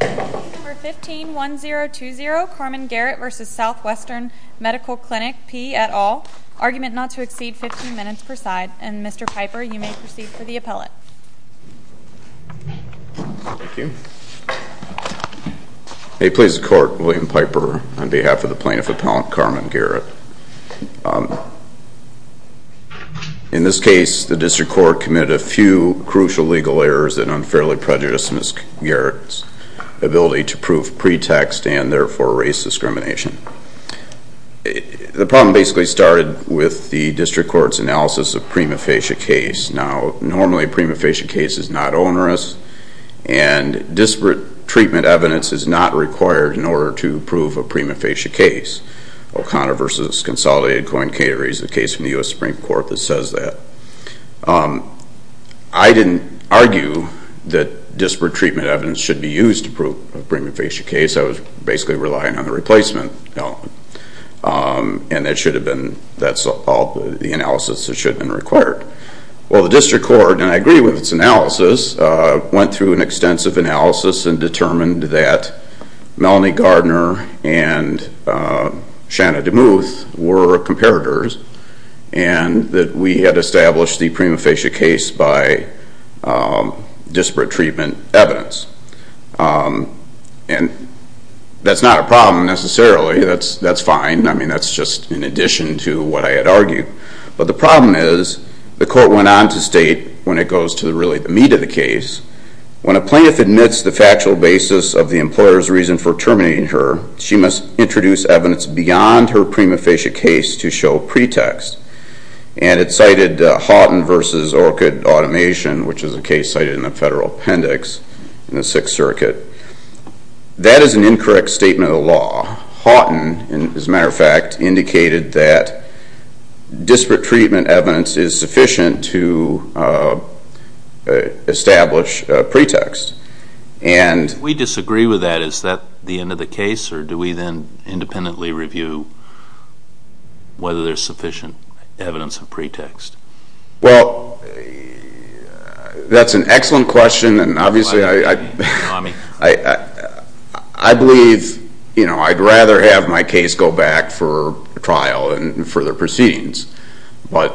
Number 151020, Carmen Garrett v. Southwestern Medical Clinic P. et al. Argument not to exceed 15 minutes per side. And Mr. Piper, you may proceed for the appellate. May it please the court, William Piper on behalf of the plaintiff appellant, Carmen Garrett. In this case, the district court committed a few crucial legal errors that unfairly prejudiced Ms. Garrett's ability to prove pretext and therefore race discrimination. The problem basically started with the district court's analysis of prima facie case. Now, normally a prima facie case is not onerous. And disparate treatment evidence is not required in order to prove a prima facie case. O'Connor v. Consolidated Coin Caterers, a case from the US Supreme Court that says that. I didn't argue that disparate treatment evidence should be used to prove a prima facie case. I was basically relying on the replacement element. And that's all the analysis that should have been required. Well, the district court, and I agree with its analysis, went through an extensive analysis and determined that Melanie Gardner and Shanna DeMuth were comparators and that we had established the prima facie case by disparate treatment evidence. And that's not a problem, necessarily. That's fine. I mean, that's just in addition to what I had argued. But the problem is, the court went on to state, when it goes to really the meat of the case, when a plaintiff admits the factual basis of the employer's reason for terminating her, she must introduce evidence beyond her prima facie case to show pretext. And it cited Houghton versus Orchard Automation, which is a case cited in the federal appendix in the Sixth Circuit. That is an incorrect statement of the law. Houghton, as a matter of fact, indicated that disparate treatment evidence is sufficient to establish a pretext. And we disagree with that. Is that the end of the case? Or do we then independently review whether there's sufficient evidence of pretext? Well, that's an excellent question. And obviously, I believe I'd rather have my case go back for trial and further proceedings. But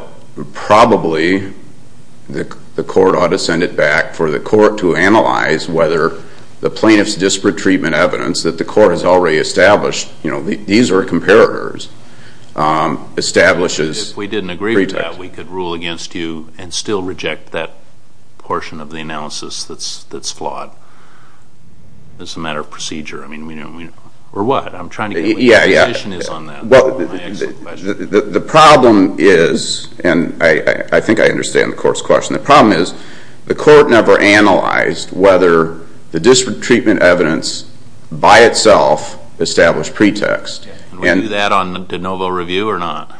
probably, the court ought to send it back for the court to analyze whether the plaintiff's disparate treatment evidence that the court has already established, these are comparators, establishes pretext. If we didn't agree with that, we could rule against you and still reject that portion of the analysis that's flawed. It's a matter of procedure. Or what? I'm trying to get what your position is on that. Well, the problem is, and I think I understand the court's question, the problem is the court never analyzed whether the disparate treatment evidence by itself established pretext. And we do that on the de novo review or not?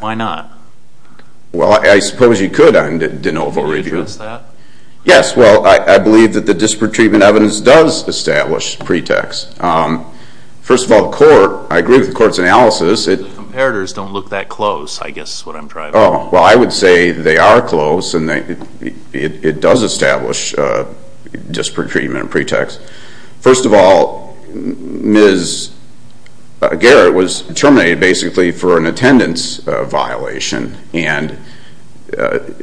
Why not? Well, I suppose you could on de novo review. Can you address that? Yes, well, I believe that the disparate treatment evidence does establish pretext. First of all, the court, I agree with the court's analysis. Comparators don't look that close, I guess is what I'm driving at. Well, I would say they are close. It does establish disparate treatment and pretext. First of all, Ms. Garrett was terminated basically for an attendance violation. And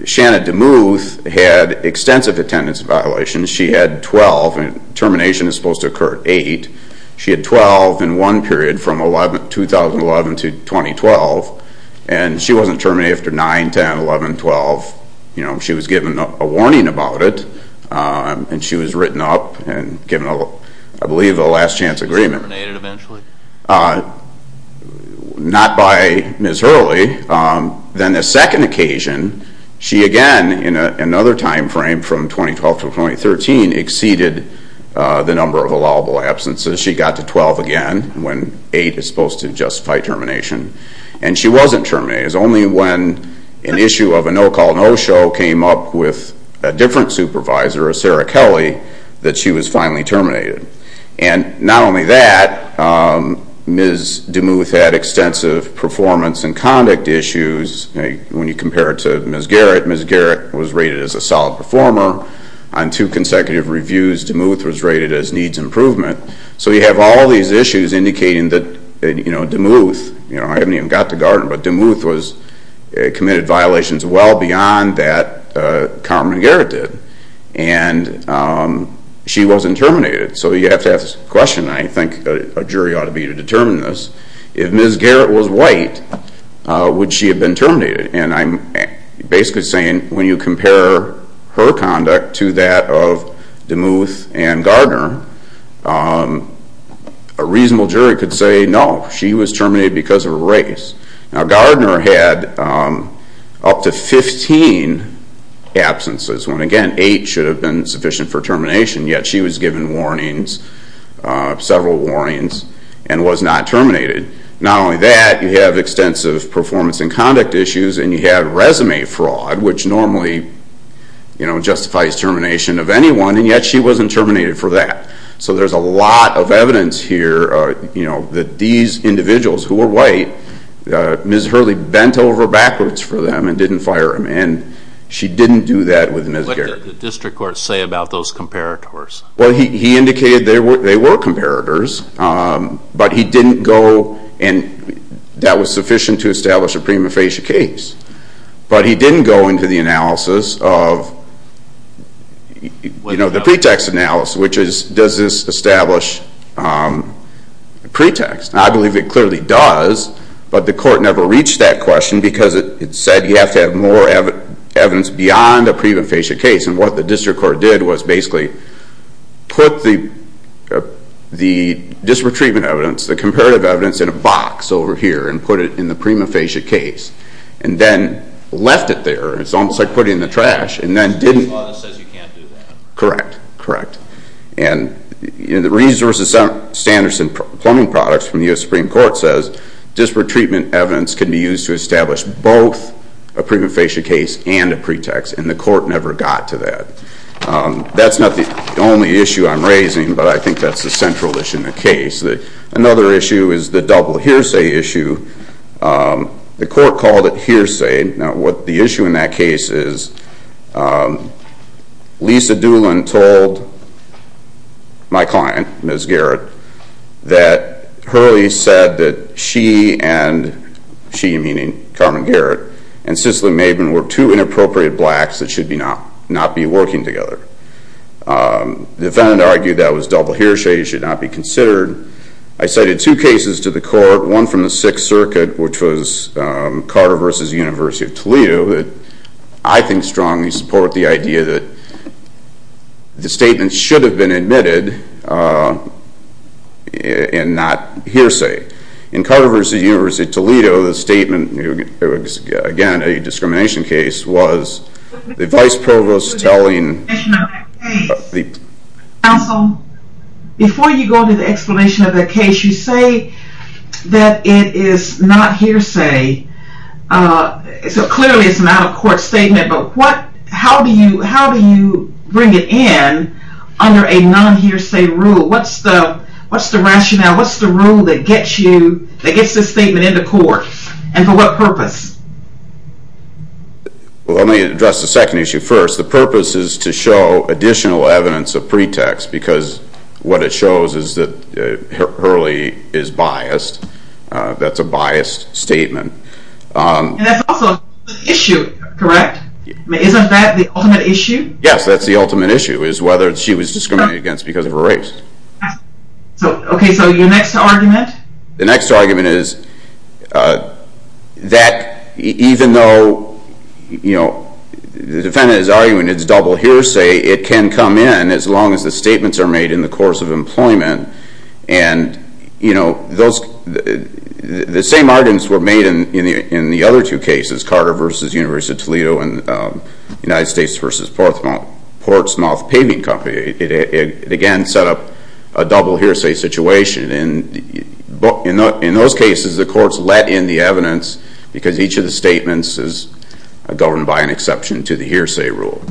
Shanna DeMuth had extensive attendance violations. She had 12, and termination is supposed to occur at 8. She had 12 in one period from 2011 to 2012. And she wasn't terminated after 9, 10, 11, 12. She was given a warning about it, and she was written up and given, I believe, a last chance agreement. Was she terminated eventually? Not by Ms. Hurley. Then the second occasion, she again, in another time frame from 2012 to 2013, exceeded the number of allowable absences. She got to 12 again when 8 is supposed to justify termination. And she wasn't terminated. It was only when an issue of a no-call, no-show came up with a different supervisor, a Sarah Kelly, that she was finally terminated. And not only that, Ms. DeMuth had extensive performance and conduct issues. When you compare it to Ms. Garrett, Ms. Garrett was rated as a solid performer. On two consecutive reviews, DeMuth was rated as needs improvement. So you have all these issues indicating that DeMuth, I haven't even got to Gardner, but DeMuth committed violations well beyond that Carmen Garrett did. And she wasn't terminated. So you have to ask this question, and I think a jury ought to be to determine this. If Ms. Garrett was white, would she have been terminated? And I'm basically saying, when you compare her conduct to that of DeMuth and Gardner, a reasonable jury could say, no, she was terminated because of a race. Now Gardner had up to 15 absences, when again, eight should have been sufficient for termination. Yet she was given warnings, several warnings, and was not terminated. Not only that, you have extensive performance and conduct issues, and you have resume fraud, which normally justifies termination of anyone. And yet she wasn't terminated for that. So there's a lot of evidence here that these individuals who were white, Ms. Hurley bent over backwards for them and didn't fire them. And she didn't do that with Ms. Garrett. What did the district court say about those comparators? Well, he indicated they were comparators, but he didn't go, and that was sufficient to establish a prima facie case. But he didn't go into the analysis of the pretext analysis, which is, does this establish a pretext? I believe it clearly does, but the court never reached that question, because it said you have to have more evidence beyond a prima facie case. And what the district court did was basically put the disparate treatment evidence, the comparative evidence, in a box over here, and put it in the prima facie case. And then left it there. It's almost like putting it in the trash, and then didn't. The district court says you can't do that. Correct. And the resource of Sanderson plumbing products from the US Supreme Court says disparate treatment evidence can be used to establish both a prima facie case and a pretext, and the court never got to that. That's not the only issue I'm raising, but I think that's the central issue in the case. Another issue is the double hearsay issue. The court called it hearsay. Now, what the issue in that case is, Lisa Doolin told my client, Ms. Garrett, that Hurley said that she and, she meaning Carmen Garrett, and Cicely Maben were two inappropriate blacks that should not be working together. The defendant argued that was double hearsay, should not be considered. I cited two cases to the court, one from the Sixth Circuit, which was Carter versus the University of Toledo, that I think strongly support the idea that the statement should have been admitted, and not hearsay. In Carter versus the University of Toledo, the statement, again, a discrimination case, was the vice provost telling the. Counsel, before you go into the explanation of the case, you say that it is not hearsay. So clearly, it's not a court statement, but how do you bring it in under a non-hearsay rule? What's the rationale? What's the rule that gets this statement into court? And for what purpose? Well, let me address the second issue first. The purpose is to show additional evidence of pretext, because what it shows is that Hurley is biased. That's a biased statement. And that's also an issue, correct? Isn't that the ultimate issue? Yes, that's the ultimate issue, is whether she was discriminated against because of her race. OK, so your next argument? The next argument is that even though the defendant is arguing it's double hearsay, it can come in, as long as the statements are made in the course of employment. And the same arguments were made in the other two cases, Carter versus University of Toledo, and United States versus Portsmouth Paving Company. It, again, set up a double hearsay situation. And in those cases, the courts let in the evidence, because each of the statements is governed by an exception to the hearsay rule.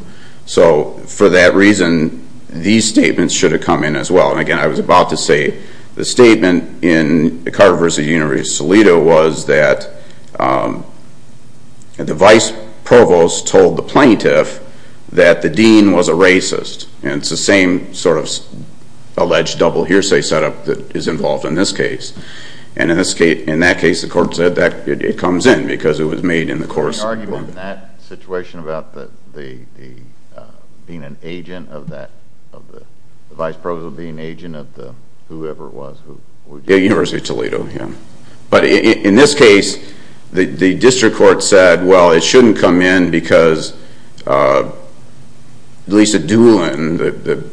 So for that reason, these statements should have come in as well. And again, I was about to say, the statement in Carter versus University of Toledo was that the vice provost told the plaintiff that the dean was a racist. And it's the same sort of alleged double hearsay setup that is involved in this case. And in that case, the court said that it comes in, because it was made in the course of employment. There was an argument in that situation about being an agent of that, the vice provost being an agent of whoever it was. University of Toledo, yeah. But in this case, the district court said, well, it shouldn't come in, because Lisa Doolin,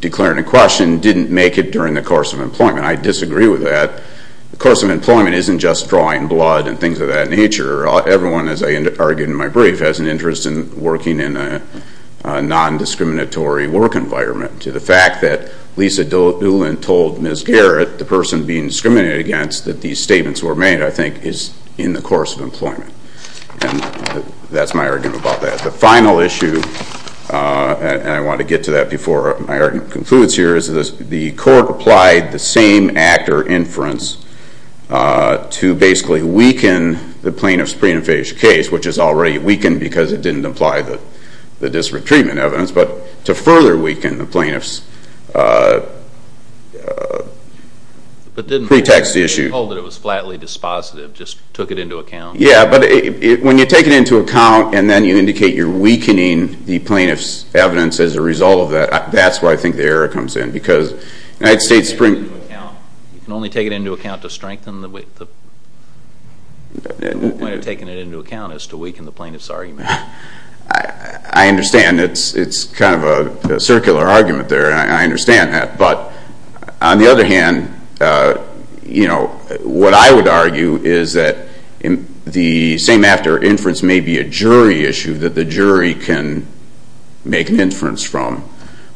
declaring a question, didn't make it during the course of employment. I disagree with that. The course of employment isn't just drawing blood and things of that nature. Everyone, as I argued in my brief, has an interest in working in a non-discriminatory work environment. The fact that Lisa Doolin told Ms. Garrett, the person being discriminated against, that these statements were made, I think, is in the course of employment. And that's my argument about that. The final issue, and I want to get to that before my argument concludes here, is that the court applied the same actor inference to basically weaken the plaintiff's prenuphagia case, which is already weakened, because it didn't apply the disparate treatment evidence. But to further weaken the plaintiff's pretext issue. But didn't they hold that it was flatly dispositive, just took it into account? Yeah, but when you take it into account, and then you indicate you're weakening the plaintiff's evidence as a result of that, that's where I think the error comes in, because United States Supreme Court can only take it into account to strengthen the point of taking it into account is to weaken the plaintiff's argument. I understand. It's kind of a circular argument there. I understand that. But on the other hand, what I would argue is that the same actor inference may be a jury issue that the jury can make an inference from.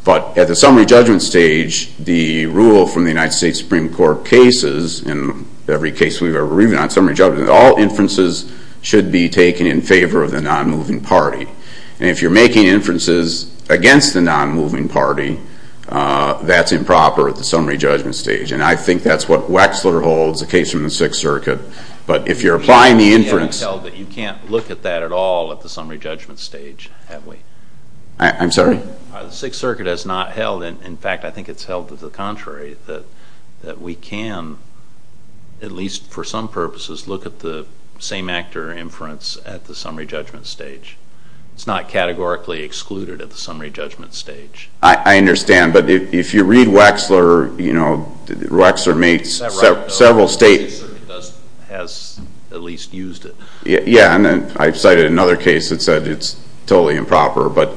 But at the summary judgment stage, the rule from the United States Supreme Court in every case we've ever reviewed on summary judgment, all inferences should be taken in favor of the non-moving party. And if you're making inferences against the non-moving party, that's improper at the summary judgment stage. And I think that's what Wexler holds, a case from the Sixth Circuit. But if you're applying the inference. You can't look at that at all at the summary judgment stage, have we? I'm sorry? The Sixth Circuit has not held. In fact, I think it's held to the contrary, that we can, at least for some purposes, look at the same actor inference at the summary judgment stage. It's not categorically excluded at the summary judgment stage. I understand. But if you read Wexler, Wexler makes several states. The Sixth Circuit has at least used it. Yeah, and I've cited another case that said it's totally improper. But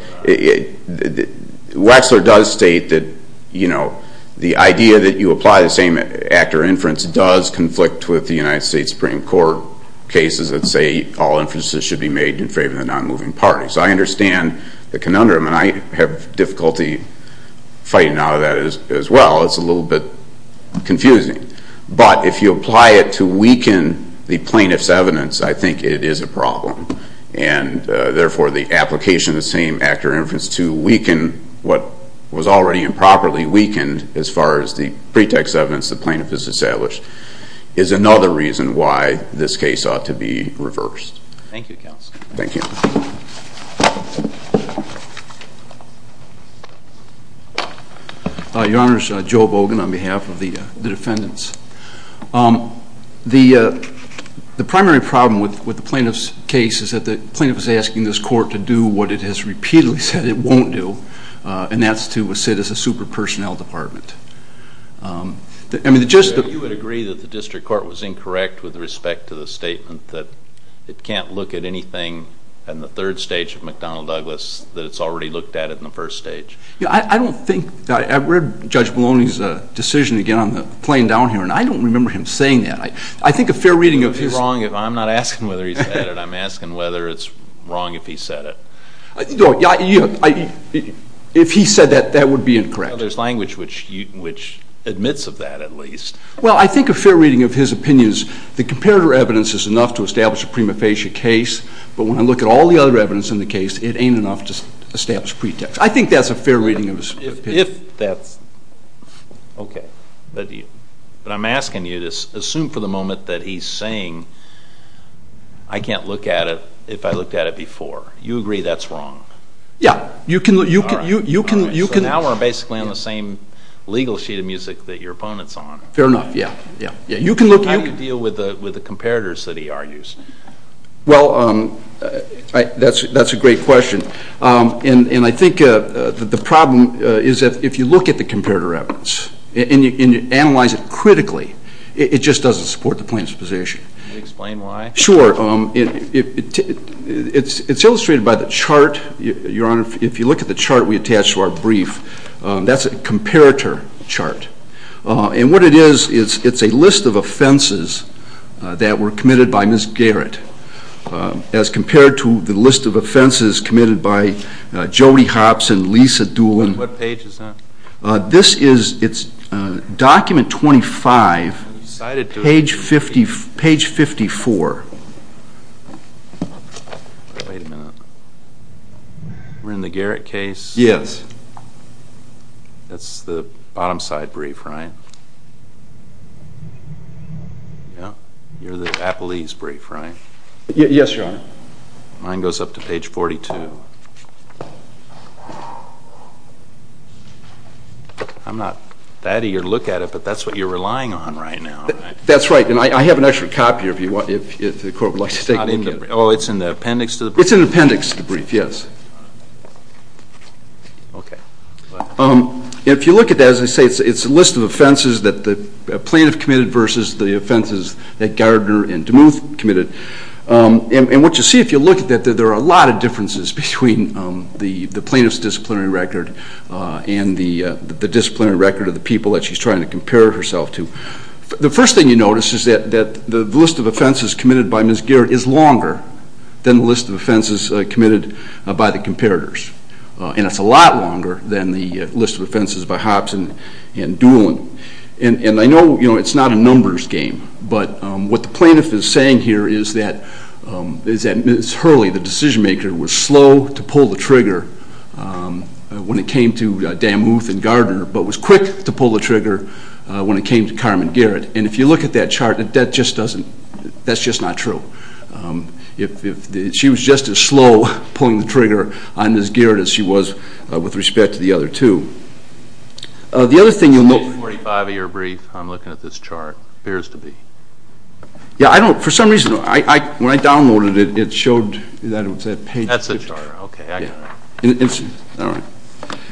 Wexler does state that the idea that you apply the same actor inference does conflict with the United States Supreme Court cases that say all inferences should be made in favor of the non-moving party. So I understand the conundrum. And I have difficulty fighting out of that as well. It's a little bit confusing. But if you apply it to weaken the plaintiff's evidence, I think it is a problem. And therefore, the application of the same actor inference to weaken what was already improperly weakened, as far as the pretext evidence the plaintiff has established, is another reason why this case ought to be reversed. Thank you, counsel. Thank you. Your Honors, Joe Bogan on behalf of the defendants. The primary problem with the plaintiff's case is that the plaintiff is asking this court to do what it has repeatedly said it won't do. And that's to sit as a super-personnel department. You would agree that the district court was incorrect with respect to the statement that it can't look at anything in the third stage of McDonnell Douglas that it's already looked at it in the first stage? I don't think that I've read Judge Maloney's decision, again, on the plane down here. And I don't remember him saying that. I think a fair reading of his. I'm not asking whether he said it. I'm asking whether it's wrong if he said it. If he said that, that would be incorrect. There's language which admits of that, at least. Well, I think a fair reading of his opinion is the comparator evidence is enough to establish a prima facie case. But when I look at all the other evidence in the case, it ain't enough to establish pretext. I think that's a fair reading of his opinion. If that's OK. But I'm asking you to assume for the moment that he's saying I can't look at it if I looked at it before. You agree that's wrong? Yeah, you can look. So now we're basically on the same legal sheet of music that your opponent's on. Fair enough, yeah. You can look. How do you deal with the comparators that he argues? Well, that's a great question. And I think the problem is that if you look at the comparator evidence and you analyze it critically, it just doesn't support the plaintiff's position. Can you explain why? Sure. It's illustrated by the chart, Your Honor. If you look at the chart we attached to our brief, that's a comparator chart. And what it is, it's a list of offenses that were committed by Ms. Garrett as compared to the list of offenses committed by Jody Hobson, Lisa Doolin. What page is that? It's document 25, page 54. Wait a minute. We're in the Garrett case? Yes. That's the bottom side brief, right? You're the Applees brief, right? Yes, Your Honor. Mine goes up to page 42. I'm not that eager to look at it, but that's what you're relying on right now. That's right. And I have an extra copy if the court would like to take a look at it. Oh, it's in the appendix to the brief? It's in the appendix to the brief, yes. If you look at that, as I say, it's a list of offenses that the plaintiff committed versus the offenses that Gardner and DeMuth committed. And what you see if you look at that, there are a lot of differences between the plaintiff's disciplinary record and the disciplinary record of the people that she's trying to compare herself to. The first thing you notice is that the list of offenses committed by Ms. Garrett is longer than the list of offenses committed by the comparators. And it's a lot longer than the list of offenses by Hobson and Doolin. And I know it's not a numbers game, but what the plaintiff is saying here is that Ms. Hurley, the decision maker, was slow to pull the trigger when it came to DeMuth and Gardner, but was quick to pull the trigger when it came to Carmen Garrett. And if you look at that chart, that just doesn't, that's just not true. She was just as slow pulling the trigger on Ms. Garrett as she was with respect to the other two. The other thing you'll notice. 245 of your brief, I'm looking at this chart, appears to be. Yeah, I don't, for some reason, when I downloaded it, it showed that it was that page. That's the chart, OK, I got it.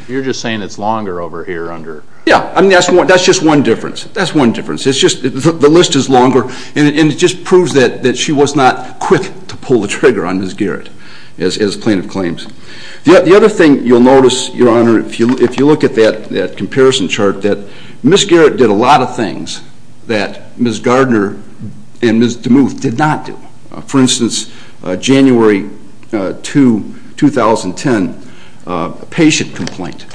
You're just saying it's longer over here under. Yeah, I mean, that's just one difference. That's one difference. The list is longer, and it just proves that she was not quick to pull the trigger on Ms. Garrett as plaintiff claims. The other thing you'll notice, Your Honor, if you look at that comparison chart, that Ms. Garrett did a lot of things that Ms. Gardner and Ms. DeMuth did not do. For instance, January 2, 2010, a patient complaint.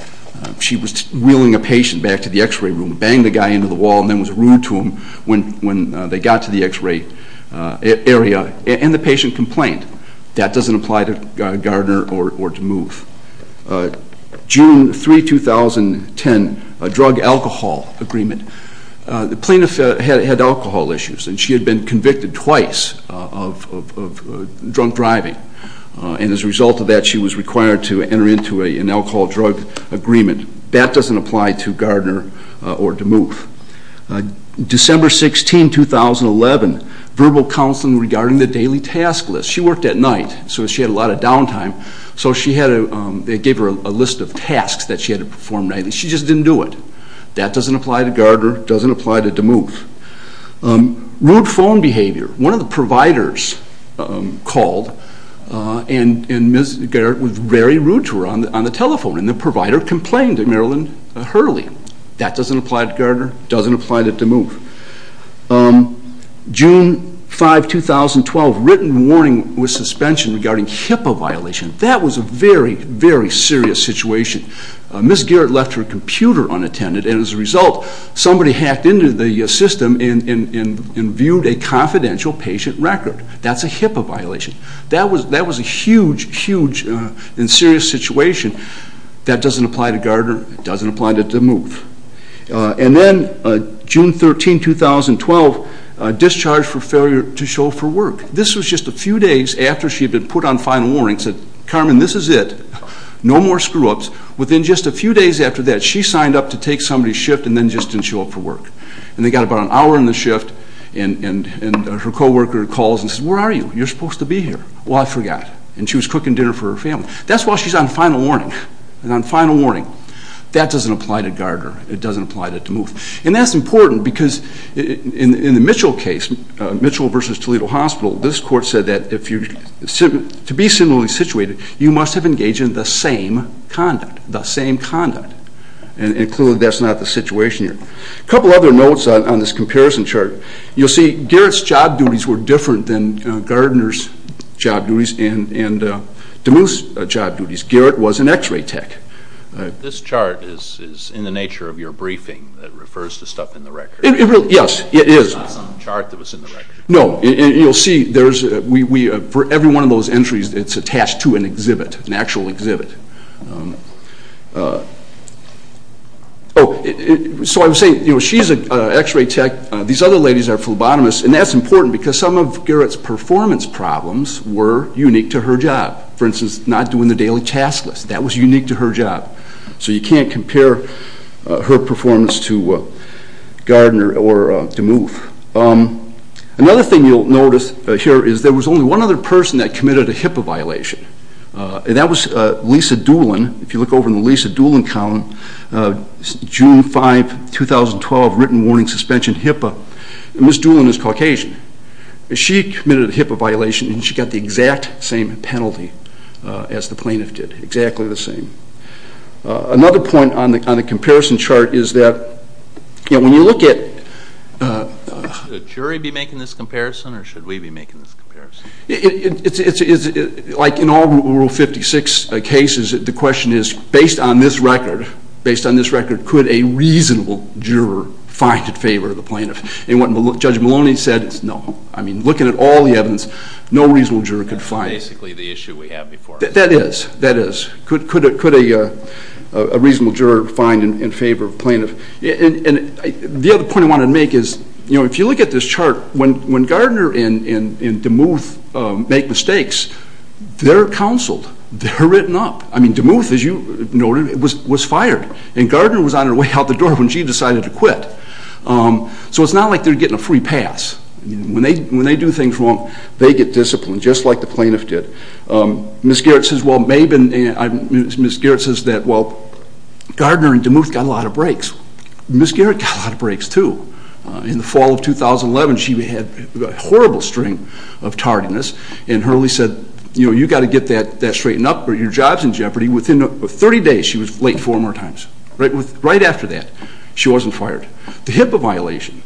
She was wheeling a patient back to the x-ray room, banged a guy into the wall, and then was rude to him when they got to the x-ray area. And the patient complained. That doesn't apply to Gardner or DeMuth. June 3, 2010, a drug-alcohol agreement. The plaintiff had alcohol issues, and she had been convicted twice of drunk driving. And as a result of that, she was required to enter into an alcohol-drug agreement. That doesn't apply to Gardner or DeMuth. December 16, 2011, verbal counseling regarding the daily task list. She worked at night, so she had a lot of downtime. So they gave her a list of tasks that she had to perform nightly. She just didn't do it. That doesn't apply to Gardner, doesn't apply to DeMuth. Rude phone behavior. One of the providers called, and Ms. Garrett was very rude to her on the telephone. And the provider complained to Marilyn Hurley. That doesn't apply to Gardner, doesn't apply to DeMuth. June 5, 2012, written warning with suspension regarding HIPAA violation. That was a very, very serious situation. Ms. Garrett left her computer unattended, and as a result, somebody hacked into the system and viewed a confidential patient record. That's a HIPAA violation. That was a huge, huge and serious situation. That doesn't apply to Gardner, doesn't apply to DeMuth. And then June 13, 2012, discharge for failure to show for work. This was just a few days after she had been put on final warning, said, Carmen, this is it. No more screw-ups. Within just a few days after that, she signed up to take somebody's shift and then just didn't show up for work. And they got about an hour in the shift, and her co-worker calls and says, where are you? You're supposed to be here. Well, I forgot, and she was cooking dinner for her family. That's while she's on final warning, on final warning. That doesn't apply to Gardner. It doesn't apply to DeMuth. And that's important, because in the Mitchell case, Mitchell versus Toledo Hospital, this court said that to be similarly situated, you must have engaged in the same conduct, the same conduct. And clearly, that's not the situation here. A couple other notes on this comparison chart. You'll see Garrett's job duties were different than Gardner's job duties and DeMuth's job duties. Garrett was an x-ray tech. This chart is in the nature of your briefing that refers to stuff in the record. Yes, it is. It's not some chart that was in the record. No, and you'll see, for every one of those entries, it's attached to an exhibit, an actual exhibit. So I would say, she's an x-ray tech. These other ladies are phlebotomists. And that's important, because some of Garrett's performance problems were unique to her job. For instance, not doing the daily task list. That was unique to her job. So you can't compare her performance to Gardner or DeMuth. Another thing you'll notice here is there was only one other person that committed a HIPAA violation. And that was Lisa Doolin. If you look over in the Lisa Doolin column, June 5, 2012, written warning suspension HIPAA. And Ms. Doolin is Caucasian. She committed a HIPAA violation, and she got the exact same penalty as the plaintiff did, exactly the same. Another point on the comparison chart is that, when you look at the jury be making this comparison, or should we be making this comparison? Like in all Rule 56 cases, the question is, based on this record, based on this record, could a reasonable juror find in favor of the plaintiff? And what Judge Maloney said is, no. I mean, looking at all the evidence, no reasonable juror could find it. That's basically the issue we have before us. That is. That is. Could a reasonable juror find in favor of plaintiff? And the other point I wanted to make is, if you look at this chart, when Gardner and DeMuth make mistakes, they're counseled. They're written up. I mean, DeMuth, as you noted, was fired. And Gardner was on her way out the door when she decided to quit. So it's not like they're getting a free pass. When they do things wrong, they get disciplined, just like the plaintiff did. Ms. Garrett says, well, Gardner and DeMuth got a lot of breaks. Ms. Garrett got a lot of breaks, too. In the fall of 2011, she had a horrible string of tardiness. And Hurley said, you've got to get that straightened up or your job's in jeopardy. Within 30 days, she was late four more times. Right after that, she wasn't fired. The HIPAA violation,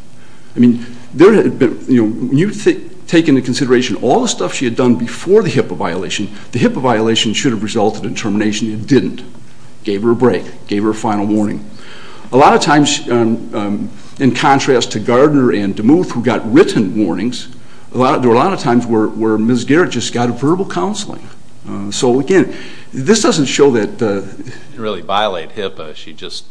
I mean, when you take into consideration all the stuff she had done before the HIPAA violation, the HIPAA violation should have resulted in termination. It didn't. Gave her a break. Gave her a final warning. A lot of times, in contrast to Gardner and DeMuth, who got written warnings, there were a lot of times where Ms. Garrett just got verbal counseling. So again, this doesn't show that the- Didn't really violate HIPAA. She just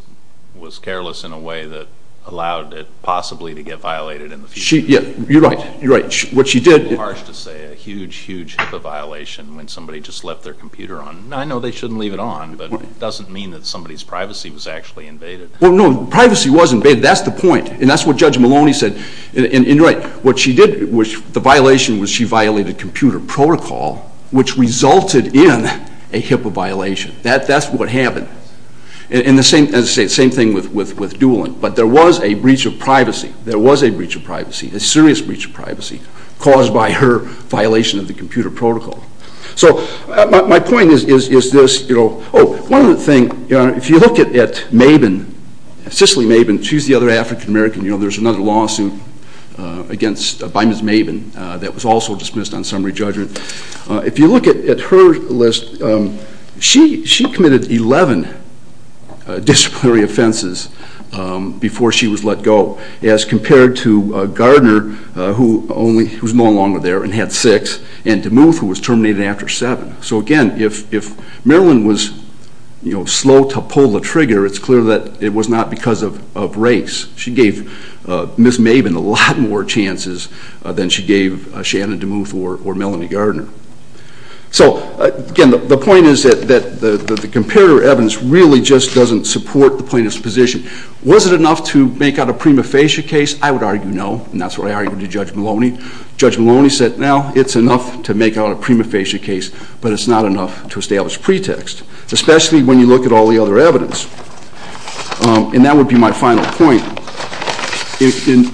was careless in a way that allowed it possibly to get violated in the future. Yeah, you're right. You're right. What she did- Harsh to say a huge, huge HIPAA violation when somebody just left their computer on. I know they shouldn't leave it on, but it doesn't mean that somebody's privacy was actually invaded. Well, no. Privacy was invaded. That's the point. And that's what Judge Maloney said. And you're right. The violation was she violated computer protocol, which resulted in a HIPAA violation. That's what happened. And the same thing with Doolin. But there was a breach of privacy. There was a breach of privacy, a serious breach of privacy caused by her violation of the computer protocol. So my point is this. Oh, one other thing. If you look at Mabin, Cicely Mabin, she's the other African-American. There's another lawsuit by Ms. Mabin that was also dismissed on summary judgment. If you look at her list, she committed 11 disciplinary offenses before she was let go, as compared to Gardner, who was no longer there and had six, and DeMuth, who was terminated after seven. So again, if Marilyn was slow to pull the trigger, it's clear that it was not because of race. She gave Ms. Mabin a lot more chances than she gave Shannon DeMuth or Melanie Gardner. So again, the point is that the comparator evidence really just doesn't support the plaintiff's position. Was it enough to make out a prima facie case? I would argue no, and that's what I argued to Judge Maloney. Judge Maloney said, no, it's enough to make out a prima facie case, but it's not enough to establish a pretext, especially when you look at all the other evidence. And that would be my final point.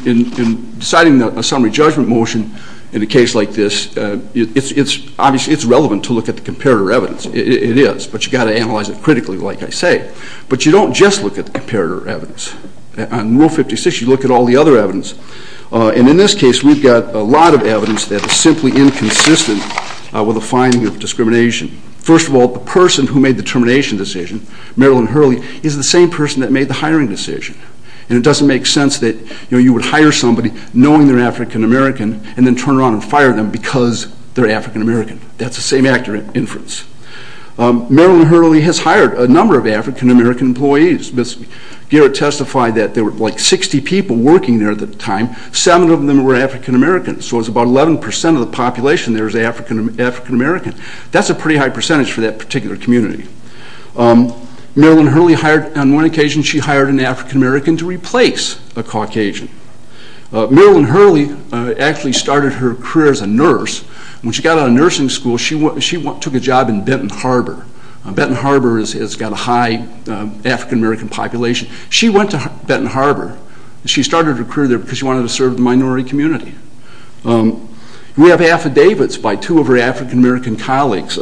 In deciding a summary judgment motion in a case like this, obviously, it's relevant to look at the comparator evidence. It is, but you've got to analyze it critically, like I say. But you don't just look at the comparator evidence. On Rule 56, you look at all the other evidence. And in this case, we've got a lot of evidence that is simply inconsistent with a finding of discrimination. First of all, the person who made the termination decision, Marilyn Hurley, is the same person that made the hiring decision. And it doesn't make sense that you would hire somebody knowing they're African-American and then turn around and fire them because they're African-American. That's the same accurate inference. Marilyn Hurley has hired a number of African-American employees. Garrett testified that there were like 60 people working there at the time. Seven of them were African-American. So it was about 11% of the population there was African-American. That's a pretty high percentage for that particular community. Marilyn Hurley hired, on one occasion, she hired an African-American to replace a Caucasian. Marilyn Hurley actually started her career as a nurse. When she got out of nursing school, she took a job in Benton Harbor. Benton Harbor has got a high African-American population. She went to Benton Harbor. She started her career there because she wanted to serve the minority community. We have affidavits by two of her African-American colleagues,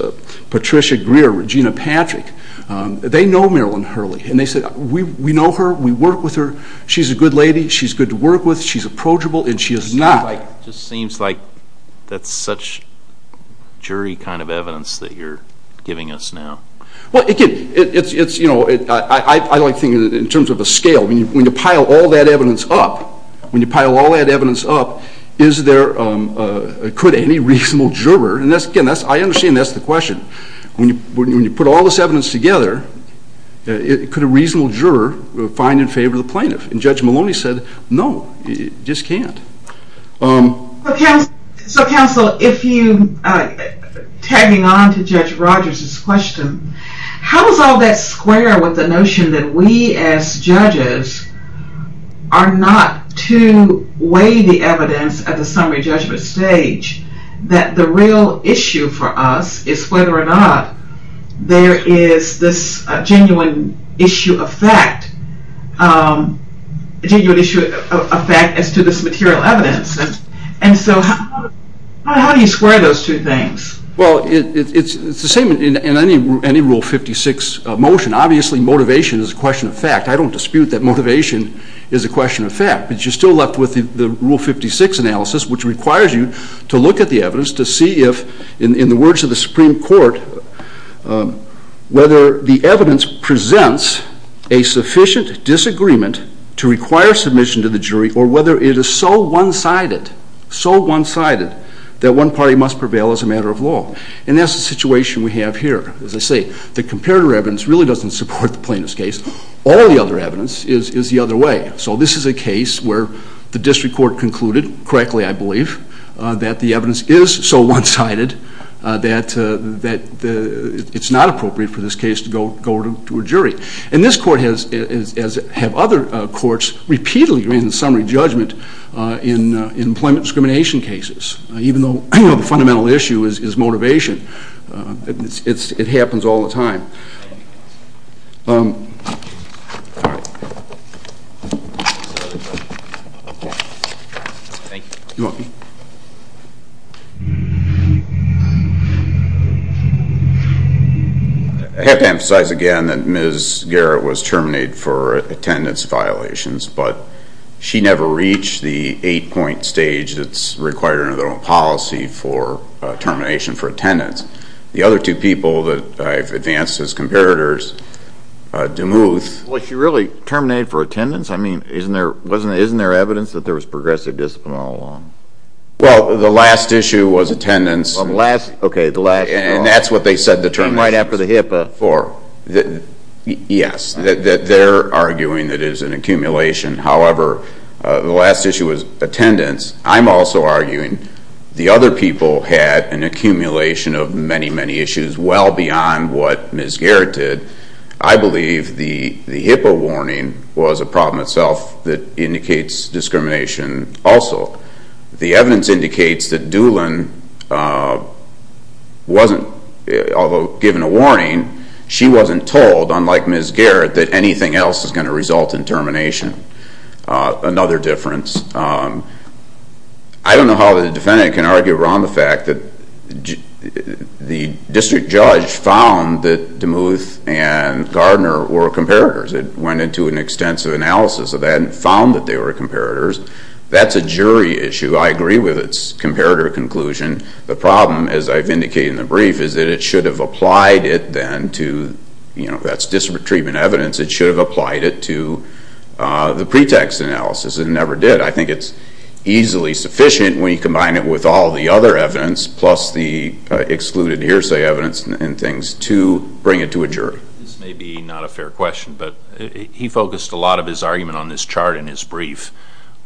Patricia Greer, Regina Patrick. They know Marilyn Hurley. And they said, we know her. We work with her. She's a good lady. She's good to work with. She's approachable. And she is not. It just seems like that's such jury kind of evidence that you're giving us now. Well, again, I like thinking in terms of a scale. When you pile all that evidence up, when you pile all that evidence up, could any reasonable juror? And again, I understand that's the question. When you put all this evidence together, could a reasonable juror find in favor of the plaintiff? And Judge Maloney said, no, you just can't. So counsel, if you, tagging on to Judge Rogers' question, how does all that square with the notion that we as judges are not to weigh the evidence at the summary judgment stage? That the real issue for us is whether or not there is this genuine issue of fact, genuine issue of fact as to this material evidence. And so how do you square those two things? Well, it's the same in any Rule 56 motion. Obviously, motivation is a question of fact. I don't dispute that motivation is a question of fact. But you're still left with the Rule 56 analysis, which requires you to look at the evidence to see if, in the words of the Supreme Court, whether the evidence presents a sufficient disagreement to require submission to the jury or whether it is so one-sided, so one-sided, that one party must prevail as a matter of law. And that's the situation we have here. As I say, the comparator evidence really doesn't support the plaintiff's case. All the other evidence is the other way. So this is a case where the district court concluded, correctly, I believe, that the evidence is so one-sided that it's not appropriate for this case to go to a jury. And this court, as have other courts, repeatedly grant a summary judgment in employment discrimination cases, even though the fundamental issue is motivation. Thank you. You're welcome. I have to emphasize again that Ms. Garrett was terminated for attendance violations. But she never reached the eight-point stage that's required under the policy for termination for attendance. The other two people that I've advanced as comparators, DeMuth. Well, she really terminated for attendance? I mean, isn't there evidence that there was progressive discipline all along? Well, the last issue was attendance. OK, the last. And that's what they said the term was. Came right after the HIPAA. Yes, they're arguing that it is an accumulation. However, the last issue was attendance. I'm also arguing the other people had an accumulation of many, many issues well beyond what Ms. Garrett did. I believe the HIPAA warning was a problem itself that indicates discrimination also. The evidence indicates that Doolin wasn't, although given a warning, she wasn't told, unlike Ms. Garrett, that anything else is going to result in termination. Another difference. I don't know how the defendant can argue around the fact that the district judge found that DeMuth and Gardner were comparators. It went into an extensive analysis of that and found that they were comparators. That's a jury issue. I agree with its comparator conclusion. The problem, as I've indicated in the brief, is that it should have applied it then to, that's district treatment evidence, it should have applied it to the pretext analysis. It never did. I think it's easily sufficient when you combine it with all the other evidence plus the excluded hearsay evidence and things to bring it to a jury. This may be not a fair question, but he focused a lot of his argument on this chart in his brief,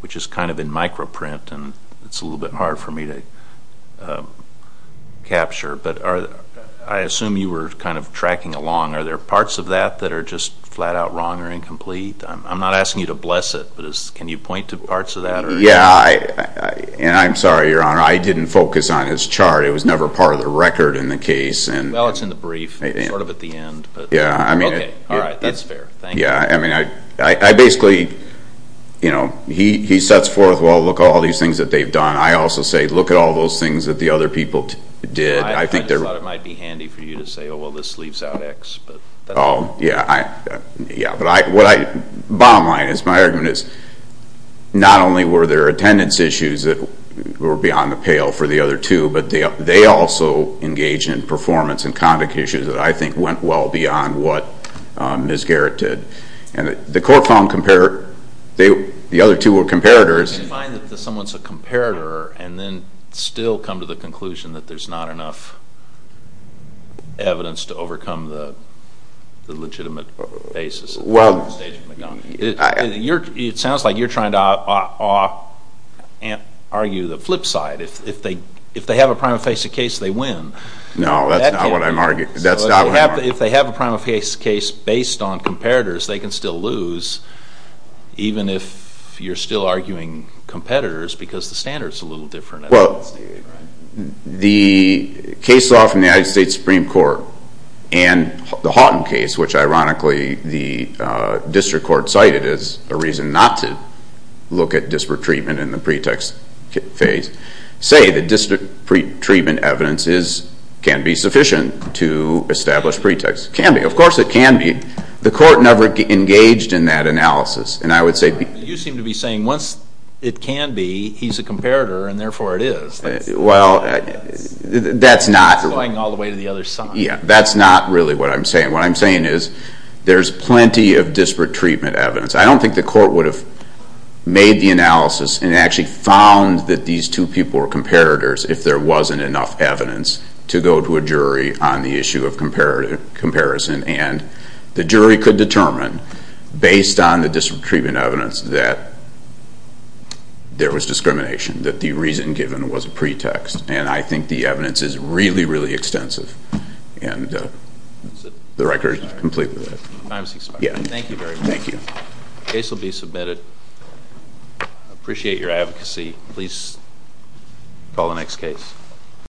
which is kind of in micro print and it's a little bit hard for me to capture. But I assume you were kind of tracking along. Are there parts of that that are just flat out wrong or incomplete? I'm not asking you to bless it, but can you point to parts of that? Yeah, and I'm sorry, Your Honor, I didn't focus on his chart. It was never part of the record in the case. Well, it's in the brief, sort of at the end. OK, all right, that's fair. Thank you. Yeah, I mean, I basically, you know, he sets forth, well, look at all these things that they've done. I also say, look at all those things that the other people did. I just thought it might be handy for you to say, oh, well, this leaves out x. Oh, yeah, bottom line is my argument is not only were there attendance issues that were beyond the pale for the other two, but they also engaged in performance and convict issues that I think went well beyond what Ms. Garrett did. And the court found the other two were comparators. You find that someone's a comparator and then still come to the conclusion that there's not enough evidence to overcome the legitimate basis of the stage of the argument. It sounds like you're trying to argue the flip side. If they have a prima facie case, they win. No, that's not what I'm arguing. If they have a prima facie case based on comparators, they can still lose, even if you're still arguing competitors, because the standard's a little different. Well, the case law from the United States Supreme Court and the Houghton case, which, ironically, the district court cited as a reason not to look at disparate treatment in the pretext phase, say that district pretreatment evidence can be sufficient to establish pretext. Can be. Of course it can be. The court never engaged in that analysis. And I would say that you seem to be saying once it can be, he's a comparator, and therefore it is. Well, that's not really what I'm saying. What I'm saying is there's plenty of disparate treatment evidence. I don't think the court would have made the analysis and actually found that these two people were comparators if there wasn't enough evidence to go to a jury on the issue of comparison. And the jury could determine, based on the disparate treatment evidence, that there was discrimination, that the reason given was a pretext. And I think the evidence is really, really extensive. And the record is completely there. I was expecting that. Thank you very much. Thank you. The case will be submitted. I appreciate your advocacy. Please call the next case.